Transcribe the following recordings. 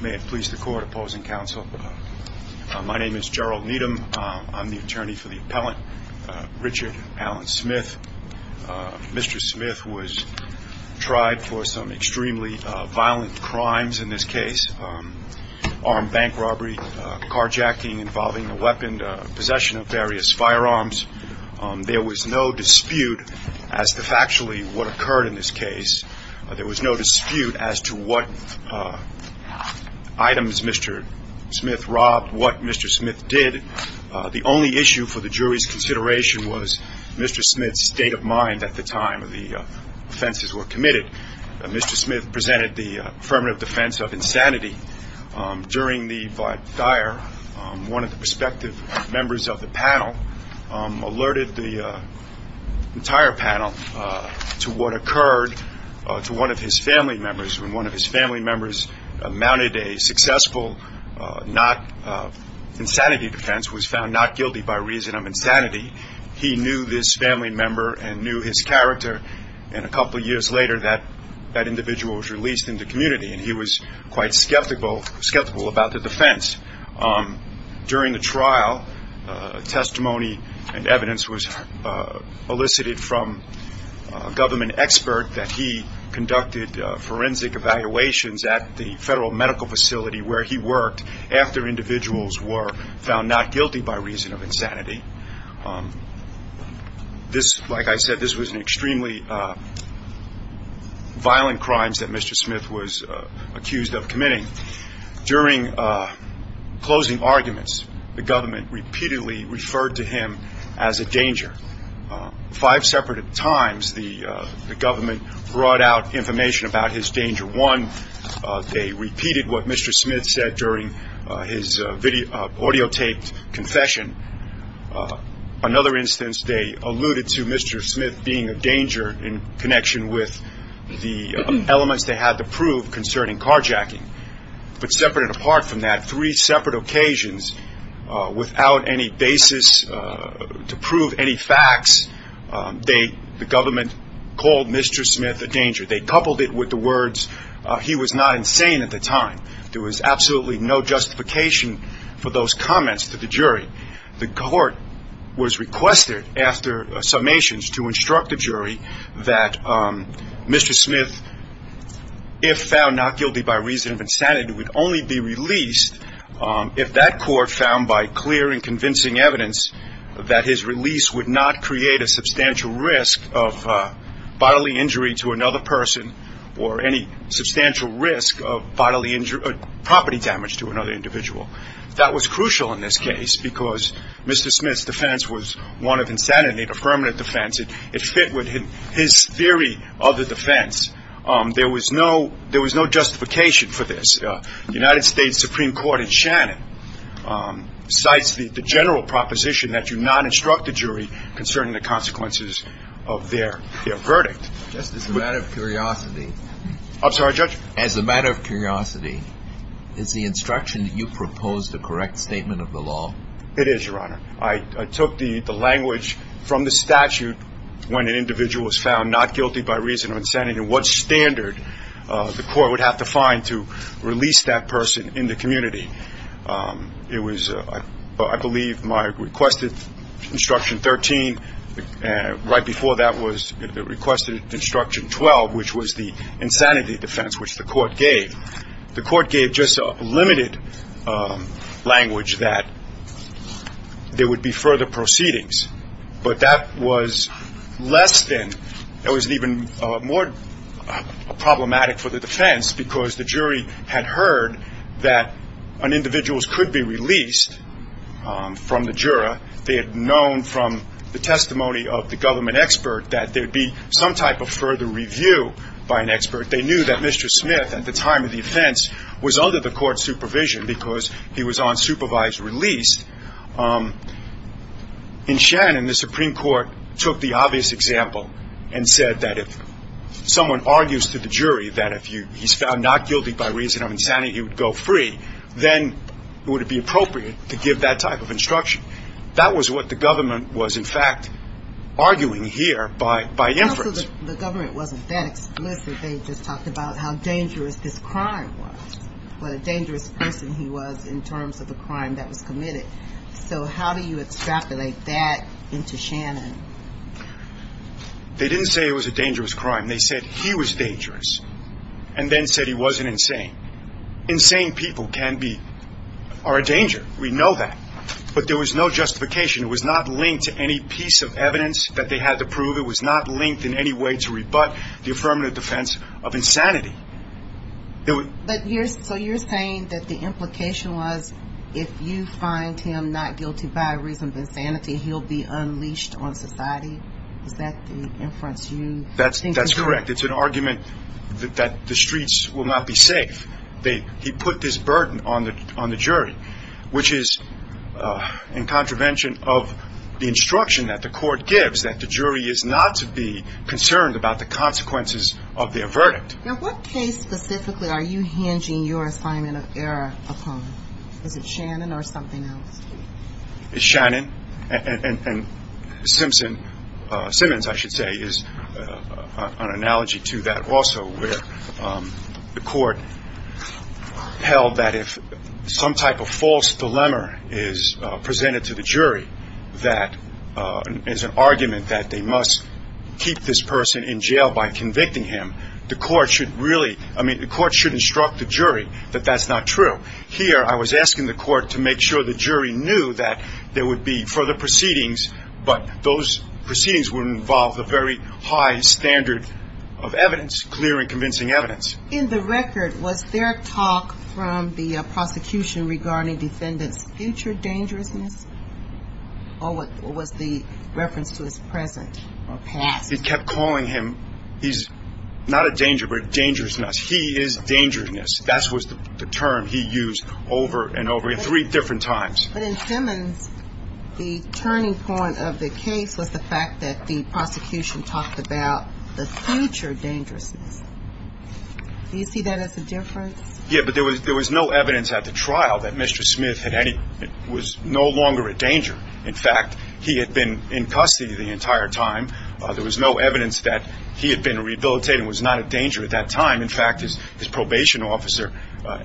May it please the court opposing counsel. My name is Gerald Needham. I'm the attorney for the appellant Richard Alan Smith. Mr. Smith was tried for some extremely violent crimes in this case. Armed bank robbery, carjacking involving a weapon, possession of various firearms. There was no dispute as to factually what occurred in this case. There was no dispute as to what items Mr. Smith robbed, what Mr. Smith did. The only issue for the jury's consideration was Mr. Smith's state of mind at the time the offenses were committed. Mr. Smith presented the affirmative defense of insanity. During the vaad daair, one of the perspective members of the panel alerted the entire panel to what occurred to one of his family members. When one of his family members mounted a successful insanity defense, was found not guilty by reason of insanity. He knew this family member and knew his character and a couple years later that individual was released into the community and he was quite skeptical about the defense. During the trial, testimony and evidence was elicited from a government expert that he conducted forensic evaluations at the federal medical facility where he worked after individuals were found not guilty by reason of insanity. This, like I said, this was an extremely violent crimes that Mr. Smith was accused of committing. During closing arguments, the government repeatedly referred to him as a danger. Five separate times the government brought out information about his danger. One, they repeated what Mr. Smith said during his videotaped confession. Another instance, they alluded to Mr. Smith being a danger in connection with the elements they had to prove concerning carjacking. But separate and apart from that, three separate occasions without any basis to prove any facts, the government called Mr. Smith a danger. They coupled it with the words, he was not insane at the time. There was absolutely no justification for those comments to the jury. The court was requested after summations to instruct the jury that Mr. Smith, if found not guilty by reason of insanity, would only be released if that court found by clear and convincing evidence that his release would not create a substantial risk of bodily injury to another person. Or any substantial risk of bodily injury, property damage to another individual. That was crucial in this case because Mr. Smith's defense was one of insanity, a permanent defense. It fit with his theory of the defense. There was no justification for this. As a matter of curiosity, is the instruction that you propose the correct statement of the law? It is, Your Honor. I took the language from the statute when an individual was found not guilty by reason of insanity and what standard the court would have to find to release that person in the community. It was, I believe, my requested instruction 13. Right before that was the requested instruction 12, which was the insanity defense, which the court gave. The court gave just a limited language that there would be further proceedings. But that was less than, that was even more problematic for the defense because the jury had heard that an individual could be released from the juror. They had known from the testimony of the government expert that there would be some type of further review by an expert. They knew that Mr. Smith, at the time of the offense, was under the court's supervision because he was on supervised release. In Shannon, the Supreme Court took the obvious example and said that if someone argues to the jury that if he's found not guilty by reason of insanity, he would go free, then it would be appropriate to give that type of instruction. That was what the government was, in fact, arguing here by inference. So the government wasn't that explicit. They just talked about how dangerous this crime was, what a dangerous person he was in terms of the crime that was committed. So how do you extrapolate that into Shannon? They didn't say it was a dangerous crime. They said he was dangerous and then said he wasn't insane. Insane people can be, are a danger. We know that. But there was no justification. It was not linked to any piece of evidence that they had to prove. It was not linked in any way to rebut the affirmative defense of insanity. So you're saying that the implication was if you find him not guilty by reason of insanity, he'll be unleashed on society? Is that the inference you think is correct? What case specifically are you hinging your assignment of error upon? Is it Shannon or something else? Shannon and Simpson, Simmons, I should say, is an analogy to that also where the court held that if some type of false dilemma is presented to the jury that is an argument that they must keep this person in jail by convicting him, the court should really, I mean, the court should instruct the jury that that's not true. Here, I was asking the court to make sure the jury knew that there would be further proceedings, but those proceedings would involve a very high standard of evidence, clear and convincing evidence. In the record, was there talk from the prosecution regarding defendant's future dangerousness? Or was the reference to his present or past? He kept calling him, he's not a danger, but dangerousness. He is dangerousness. That was the term he used over and over three different times. But in Simmons, the turning point of the case was the fact that the prosecution talked about the future dangerousness. Do you see that as a difference? Yeah, but there was no evidence at the trial that Mr. Smith was no longer a danger. In fact, he had been in custody the entire time. There was no evidence that he had been rehabilitated and was not a danger at that time. In fact, his probation officer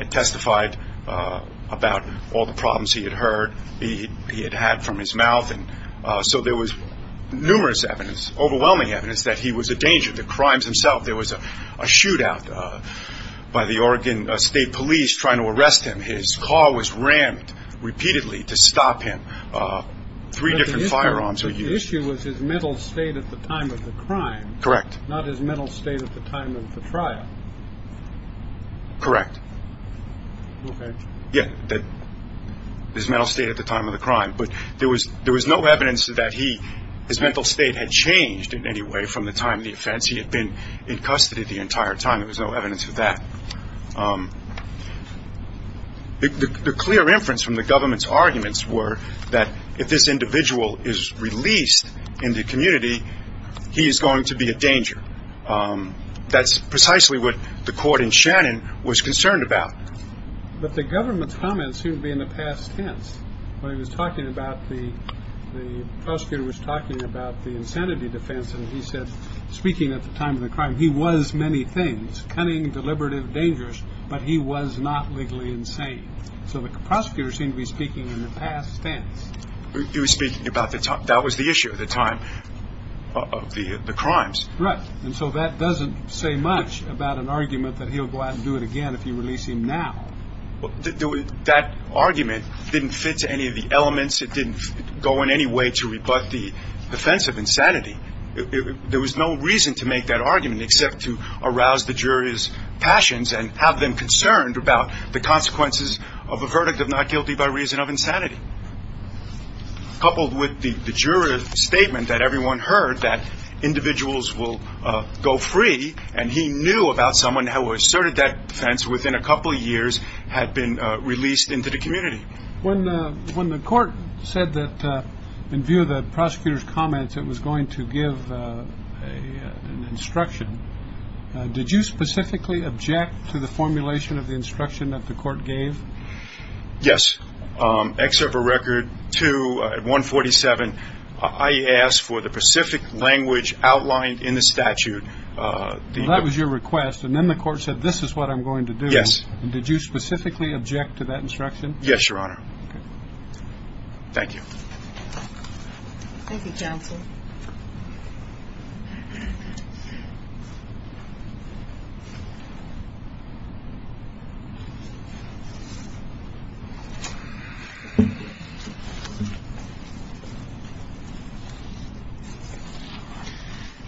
testified about all the problems he had heard, he had had from his mouth, and so there was numerous evidence, overwhelming evidence that he was a danger. The crimes themselves, there was a shootout by the Oregon State Police trying to arrest him. His car was rammed repeatedly to stop him. Three different firearms were used. The issue was his mental state at the time of the crime, not his mental state at the time of the trial. Correct. His mental state at the time of the crime. But there was no evidence that his mental state had changed in any way from the time of the offense. He had been in custody the entire time. There was no evidence of that. The clear inference from the government's arguments were that if this individual is released in the community, he is going to be a danger. That's precisely what the court in Shannon was concerned about. But the government's comments seemed to be in the past tense. When he was talking about the prosecutor was talking about the insanity defense and he said, speaking at the time of the crime, he was many things, cunning, deliberative, dangerous, but he was not legally insane. So the prosecutor seemed to be speaking in the past tense. He was speaking about the time. That was the issue at the time of the crimes. Correct. And so that doesn't say much about an argument that he'll go out and do it again if you release him now. That argument didn't fit to any of the elements. It didn't go in any way to rebut the defense of insanity. There was no reason to make that argument except to arouse the jury's passions and have them concerned about the consequences of a verdict of not guilty by reason of insanity. Coupled with the juror's statement that everyone heard that individuals will go free. And he knew about someone who asserted that defense within a couple of years had been released into the community. When the court said that in view of the prosecutor's comments, it was going to give an instruction. Did you specifically object to the formulation of the instruction that the court gave? Yes. Except for record to 147. I asked for the specific language outlined in the statute. That was your request. And then the court said, this is what I'm going to do. Yes. Did you specifically object to that instruction? Yes, Your Honor. Thank you. Thank you, counsel.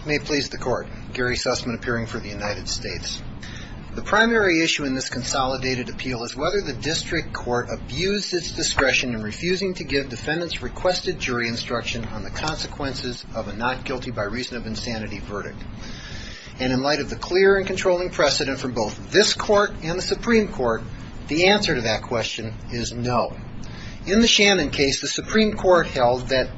May it please the court. Gary Sussman appearing for the United States. The primary issue in this consolidated appeal is whether the district court abused its discretion in refusing to give defendants requested jury instruction on the consequences of a not guilty by reason of insanity verdict. And in light of the clear and controlling precedent from both this court and the Supreme Court, the answer to that question is no. In the Shannon case, the Supreme Court held that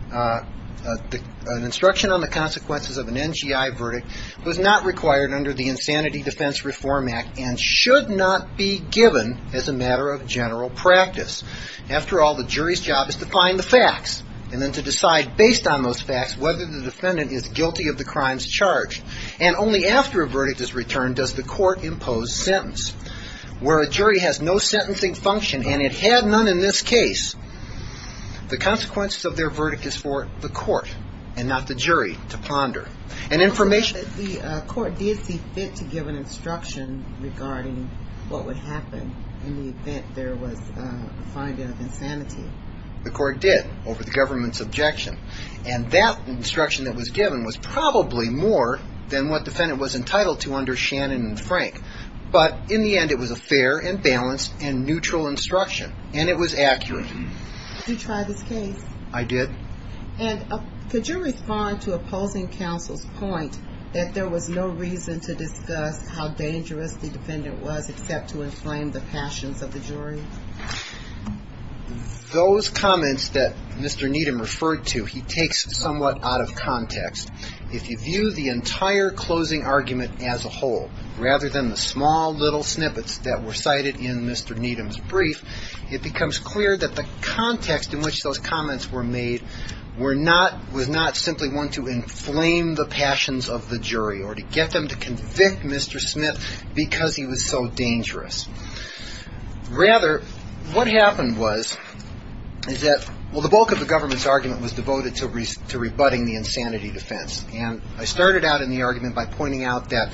an instruction on the consequences of an NGI verdict was not required under the Insanity Defense Reform Act and should not be given as a matter of general practice. After all, the jury's job is to find the facts and then to decide based on those facts whether the defendant is guilty of the crimes charged. And only after a verdict is returned does the court impose sentence. Where a jury has no sentencing function, and it had none in this case, the consequences of their verdict is for the court and not the jury to ponder. The court did see fit to give an instruction regarding what would happen in the event there was a finding of insanity. The court did, over the government's objection. And that instruction that was given was probably more than what defendant was entitled to under Shannon and Frank. But in the end, it was a fair and balanced and neutral instruction. And it was accurate. Did you try this case? I did. And could you respond to opposing counsel's point that there was no reason to discuss how dangerous the defendant was except to inflame the passions of the jury? Those comments that Mr. Needham referred to, he takes somewhat out of context. If you view the entire closing argument as a whole, rather than the small little snippets that were cited in Mr. Needham's brief, it becomes clear that the context in which those comments were made was not simply one to inflame the passions of the jury or to get them to convict Mr. Smith because he was so dangerous. Rather, what happened was, is that, well, the bulk of the government's argument was devoted to rebutting the insanity defense. And I started out in the argument by pointing out that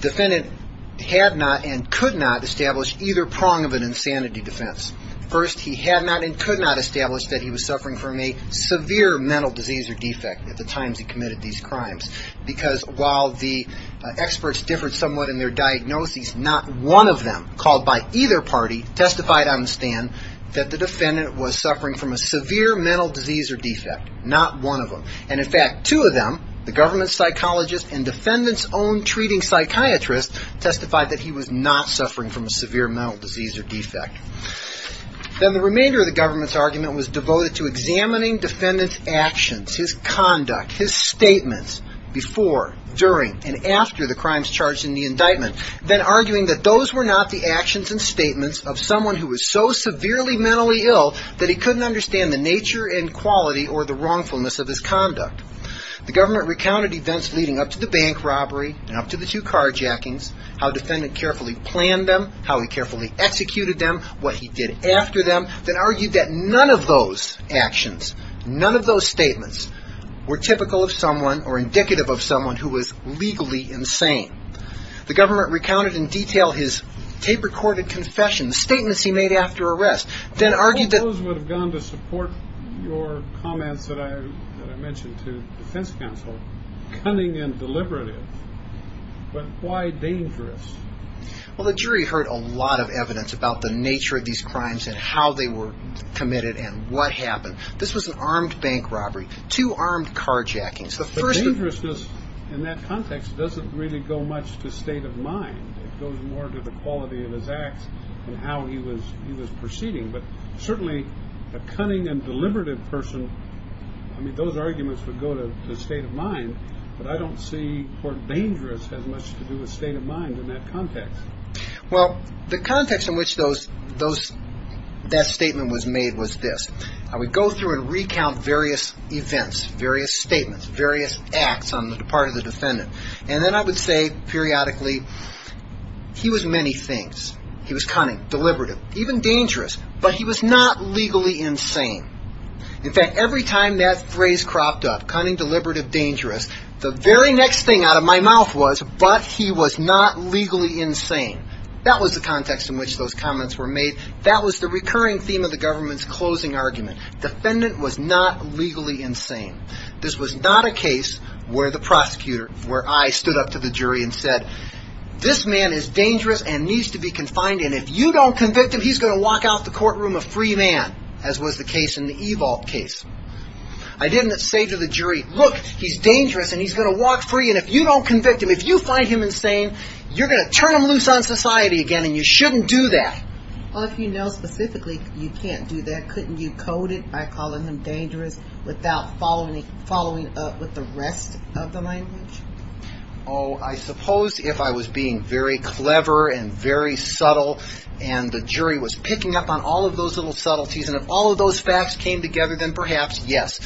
defendant had not and could not establish either prong of an insanity defense. First, he had not and could not establish that he was suffering from a severe mental disease or defect at the times he committed these crimes. Because while the experts differed somewhat in their diagnoses, not one of them called by either party testified on the stand that the defendant was suffering from a severe mental disease or defect. Not one of them. And in fact, two of them, the government psychologist and defendant's own treating psychiatrist testified that he was not suffering from a severe mental disease or defect. Then the remainder of the government's argument was devoted to examining defendant's actions, his conduct, his statements before, during, and after the crimes charged in the indictment. Then arguing that those were not the actions and statements of someone who was so severely mentally ill that he couldn't understand the nature and quality or the wrongness of his actions. The government recounted events leading up to the bank robbery and up to the two carjackings, how defendant carefully planned them, how he carefully executed them, what he did after them. Then argued that none of those actions, none of those statements were typical of someone or indicative of someone who was legally insane. The government recounted in detail his tape-recorded confession, statements he made after arrest. All those would have gone to support your comments that I mentioned to defense counsel, cunning and deliberative, but why dangerous? Well, the jury heard a lot of evidence about the nature of these crimes and how they were committed and what happened. This was an armed bank robbery, two armed carjackings. The dangerousness in that context doesn't really go much to state of mind. It goes more to the quality of his acts and how he was proceeding, but certainly a cunning and deliberative person, I mean, those arguments would go to the state of mind, but I don't see or dangerous has much to do with state of mind in that context. Well, the context in which that statement was made was this. I would go through and recount various events, various statements, various acts on the part of the defendant. And then I would say periodically he was many things. He was cunning, deliberative, even dangerous, but he was not legally insane. In fact, every time that phrase cropped up, cunning, deliberative, dangerous, the very next thing out of my mouth was, but he was not legally insane. That was the context in which those comments were made. That was the recurring theme of the government's closing argument. Defendant was not legally insane. This was not a case where the prosecutor, where I stood up to the jury and said, this man is dangerous and needs to be confined. And if you don't convict him, he's going to walk out the courtroom a free man, as was the case in the E-Vault case. I didn't say to the jury, look, he's dangerous and he's going to walk free. And if you don't convict him, if you find him insane, you're going to turn him loose on society again and you shouldn't do that. Well, if you know specifically you can't do that, couldn't you code it by calling him dangerous without following up with the rest of the language? Oh, I suppose if I was being very clever and very subtle and the jury was picking up on all of those little subtleties and if all of those facts came together, then perhaps, yes.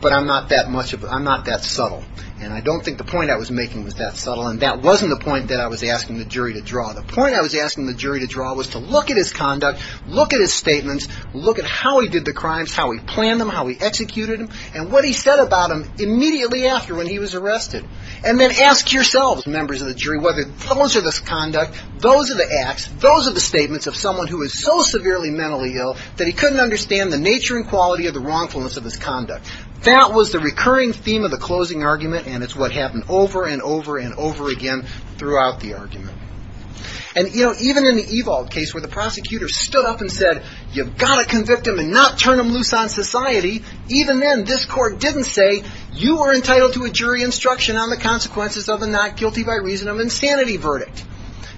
But I'm not that subtle. And I don't think the point I was making was that subtle. And that wasn't the point that I was asking the jury to draw. The point I was asking the jury to draw was to look at his conduct, look at his statements, look at how he did the crimes, how he planned them, how he executed them, and what he said about them immediately after when he was arrested. And then ask yourselves, members of the jury, whether those are the conduct, those are the acts, those are the statements of someone who is so severely mentally ill that he couldn't understand the nature and quality of the wrongfulness of his conduct. That was the recurring theme of the closing argument and it's what happened over and over and over again throughout the argument. And even in the Evald case where the prosecutor stood up and said, you've got to convict him and not turn him loose on society, even then this court didn't say, you are entitled to a jury instruction on the consequences of a not guilty by reason of insanity verdict.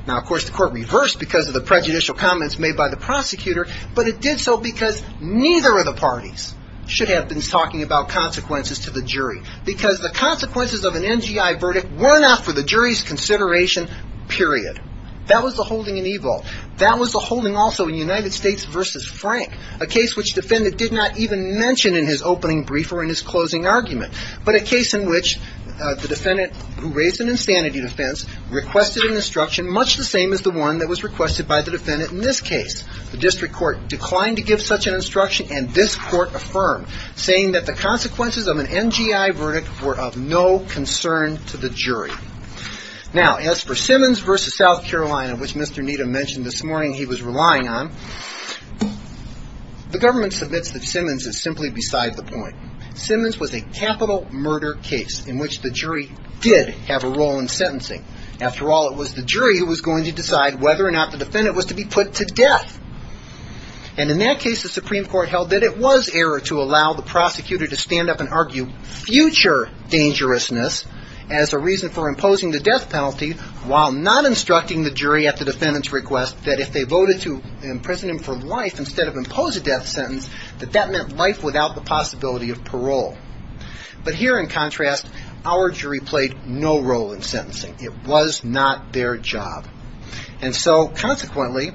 Now, of course, the court reversed because of the prejudicial comments made by the prosecutor, but it did so because neither of the parties should have been talking about consequences to the jury. Because the consequences of an NGI verdict were not for the jury's consideration, period. That was the holding in Evald. That was the holding also in United States v. Frank, a case which the defendant did not even mention in his opening brief or in his closing argument. But a case in which the defendant, who raised an insanity defense, requested an instruction much the same as the one that was requested by the defendant in this case. The district court declined to give such an instruction and this court affirmed, saying that the consequences of an NGI verdict were of no concern to the jury. Now, as for Simmons v. South Carolina, which Mr. Needham mentioned this morning he was relying on, the government submits that Simmons is simply beside the point. Simmons was a capital murder case in which the jury did have a role in sentencing. After all, it was the jury who was going to decide whether or not the defendant was to be put to death. And in that case, the Supreme Court held that it was error to allow the prosecutor to stand up and argue future dangerousness as a reason for imposing the death penalty while not instructing the jury at the defendant's request that if they voted to imprison him for life instead of impose a death sentence, that that meant life without the possibility of death. And so, consequently,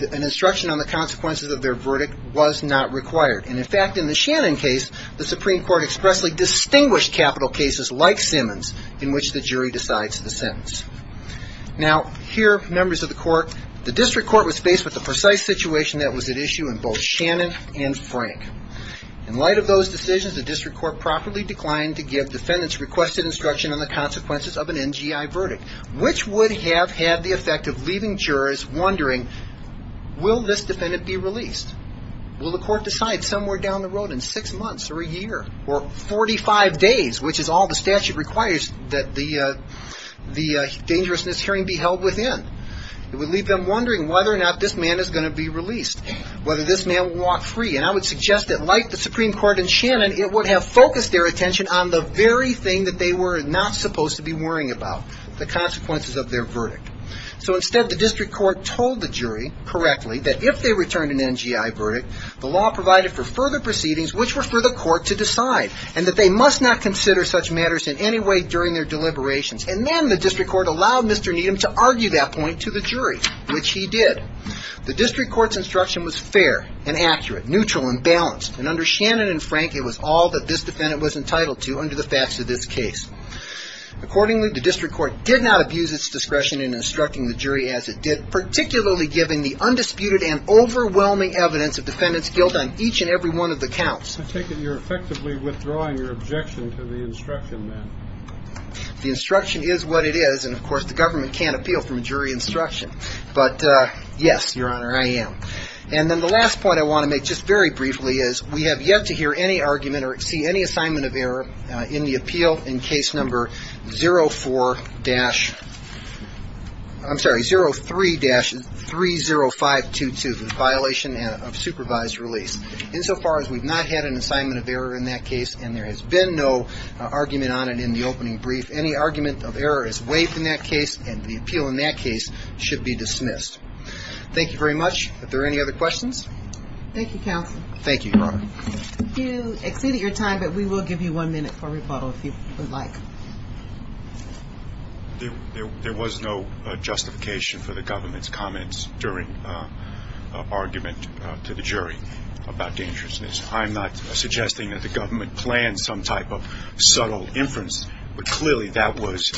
an instruction on the consequences of their verdict was not required. And in fact, in the Shannon case, the Supreme Court expressly distinguished capital cases like Simmons in which the jury decides the sentence. Now, here, members of the court, the district court was faced with the precise situation that was at issue in both Shannon and Frank. In light of those decisions, the district court properly declined to give defendants requested instruction on the consequences of an NGI verdict, which would have had the effect of leaving jurors wondering, will this defendant be released? Will the court decide somewhere down the road in six months or a year or 45 days, which is all the statute requires that the dangerousness hearing be held within? It would leave them wondering whether or not this man is going to be released, whether this man will walk free. And I would suggest that like the Supreme Court in Shannon, it would have focused their attention on the very thing that they were not supposed to be worrying about, the consequences of their verdict. So instead, the district court told the jury correctly that if they returned an NGI verdict, the law provided for further proceedings, which were for the court to decide, and that they must not consider such matters in any way during their deliberations. And then the district court allowed Mr. Needham to argue that point to the jury, which he did. The district court's instruction was fair and accurate, neutral and balanced, and under Shannon and Frank, it was all that this defendant was entitled to under the facts of this case. Accordingly, the district court did not abuse its discretion in instructing the jury as it did, particularly given the undisputed and overwhelming evidence of defendants' guilt on each and every one of the counts. I take it you're effectively withdrawing your objection to the instruction then? The instruction is what it is, and of course the government can't appeal from a jury instruction. But yes, Your Honor, I am. And then the last point I want to make just very briefly is we have yet to hear any argument or see any assignment of error in the appeal in case number 04- I'm sorry, 03-30522, the violation of supervised release. Insofar as we've not had an assignment of error in that case and there has been no argument on it in the opening brief, any argument of error is waived in that case and the appeal in that case should be dismissed. Thank you very much. Are there any other questions? Thank you, counsel. Thank you, Your Honor. You exceeded your time, but we will give you one minute for rebuttal if you would like. I'm not suggesting that the government planned some type of subtle inference, but clearly that was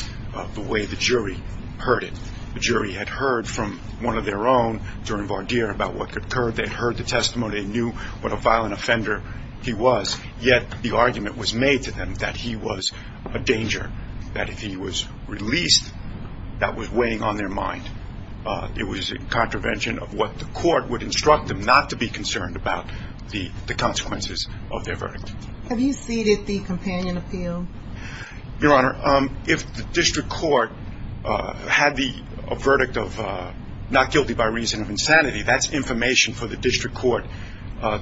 the way the jury heard it. The jury had heard from one of their own during Vardir about what occurred. They heard the testimony and knew what a violent offender he was, yet the argument was made to them that he was a danger, that if he was released, that was weighing on their mind. It was in contravention of what the court would instruct them not to be concerned about the consequences of their verdict. Have you ceded the companion appeal? Your Honor, if the district court had a verdict of not guilty by reason of insanity, that's information for the district court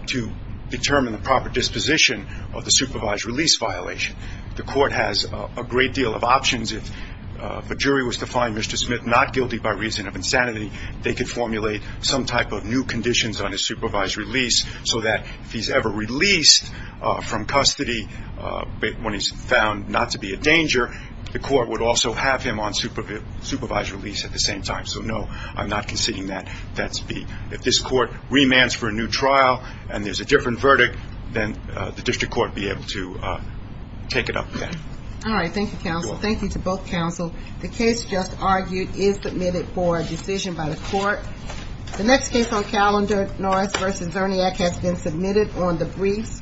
to determine the proper disposition of the supervised release violation. The court has a great deal of options. If a jury was to find Mr. Smith not guilty by reason of insanity, they could formulate some type of new conditions on his supervised release so that if he's ever released from custody when he's found not to be a danger, the court would also have him on supervised release at the same time. So, no, I'm not conceding that. If this court remands for a new trial and there's a different verdict, then the district court would be able to take it up with that. All right, thank you, counsel. Thank you to both counsel. The case just argued is submitted for a decision by the court. The next case on calendar, Norris v. Zerniak has been submitted on the briefs. Thank you.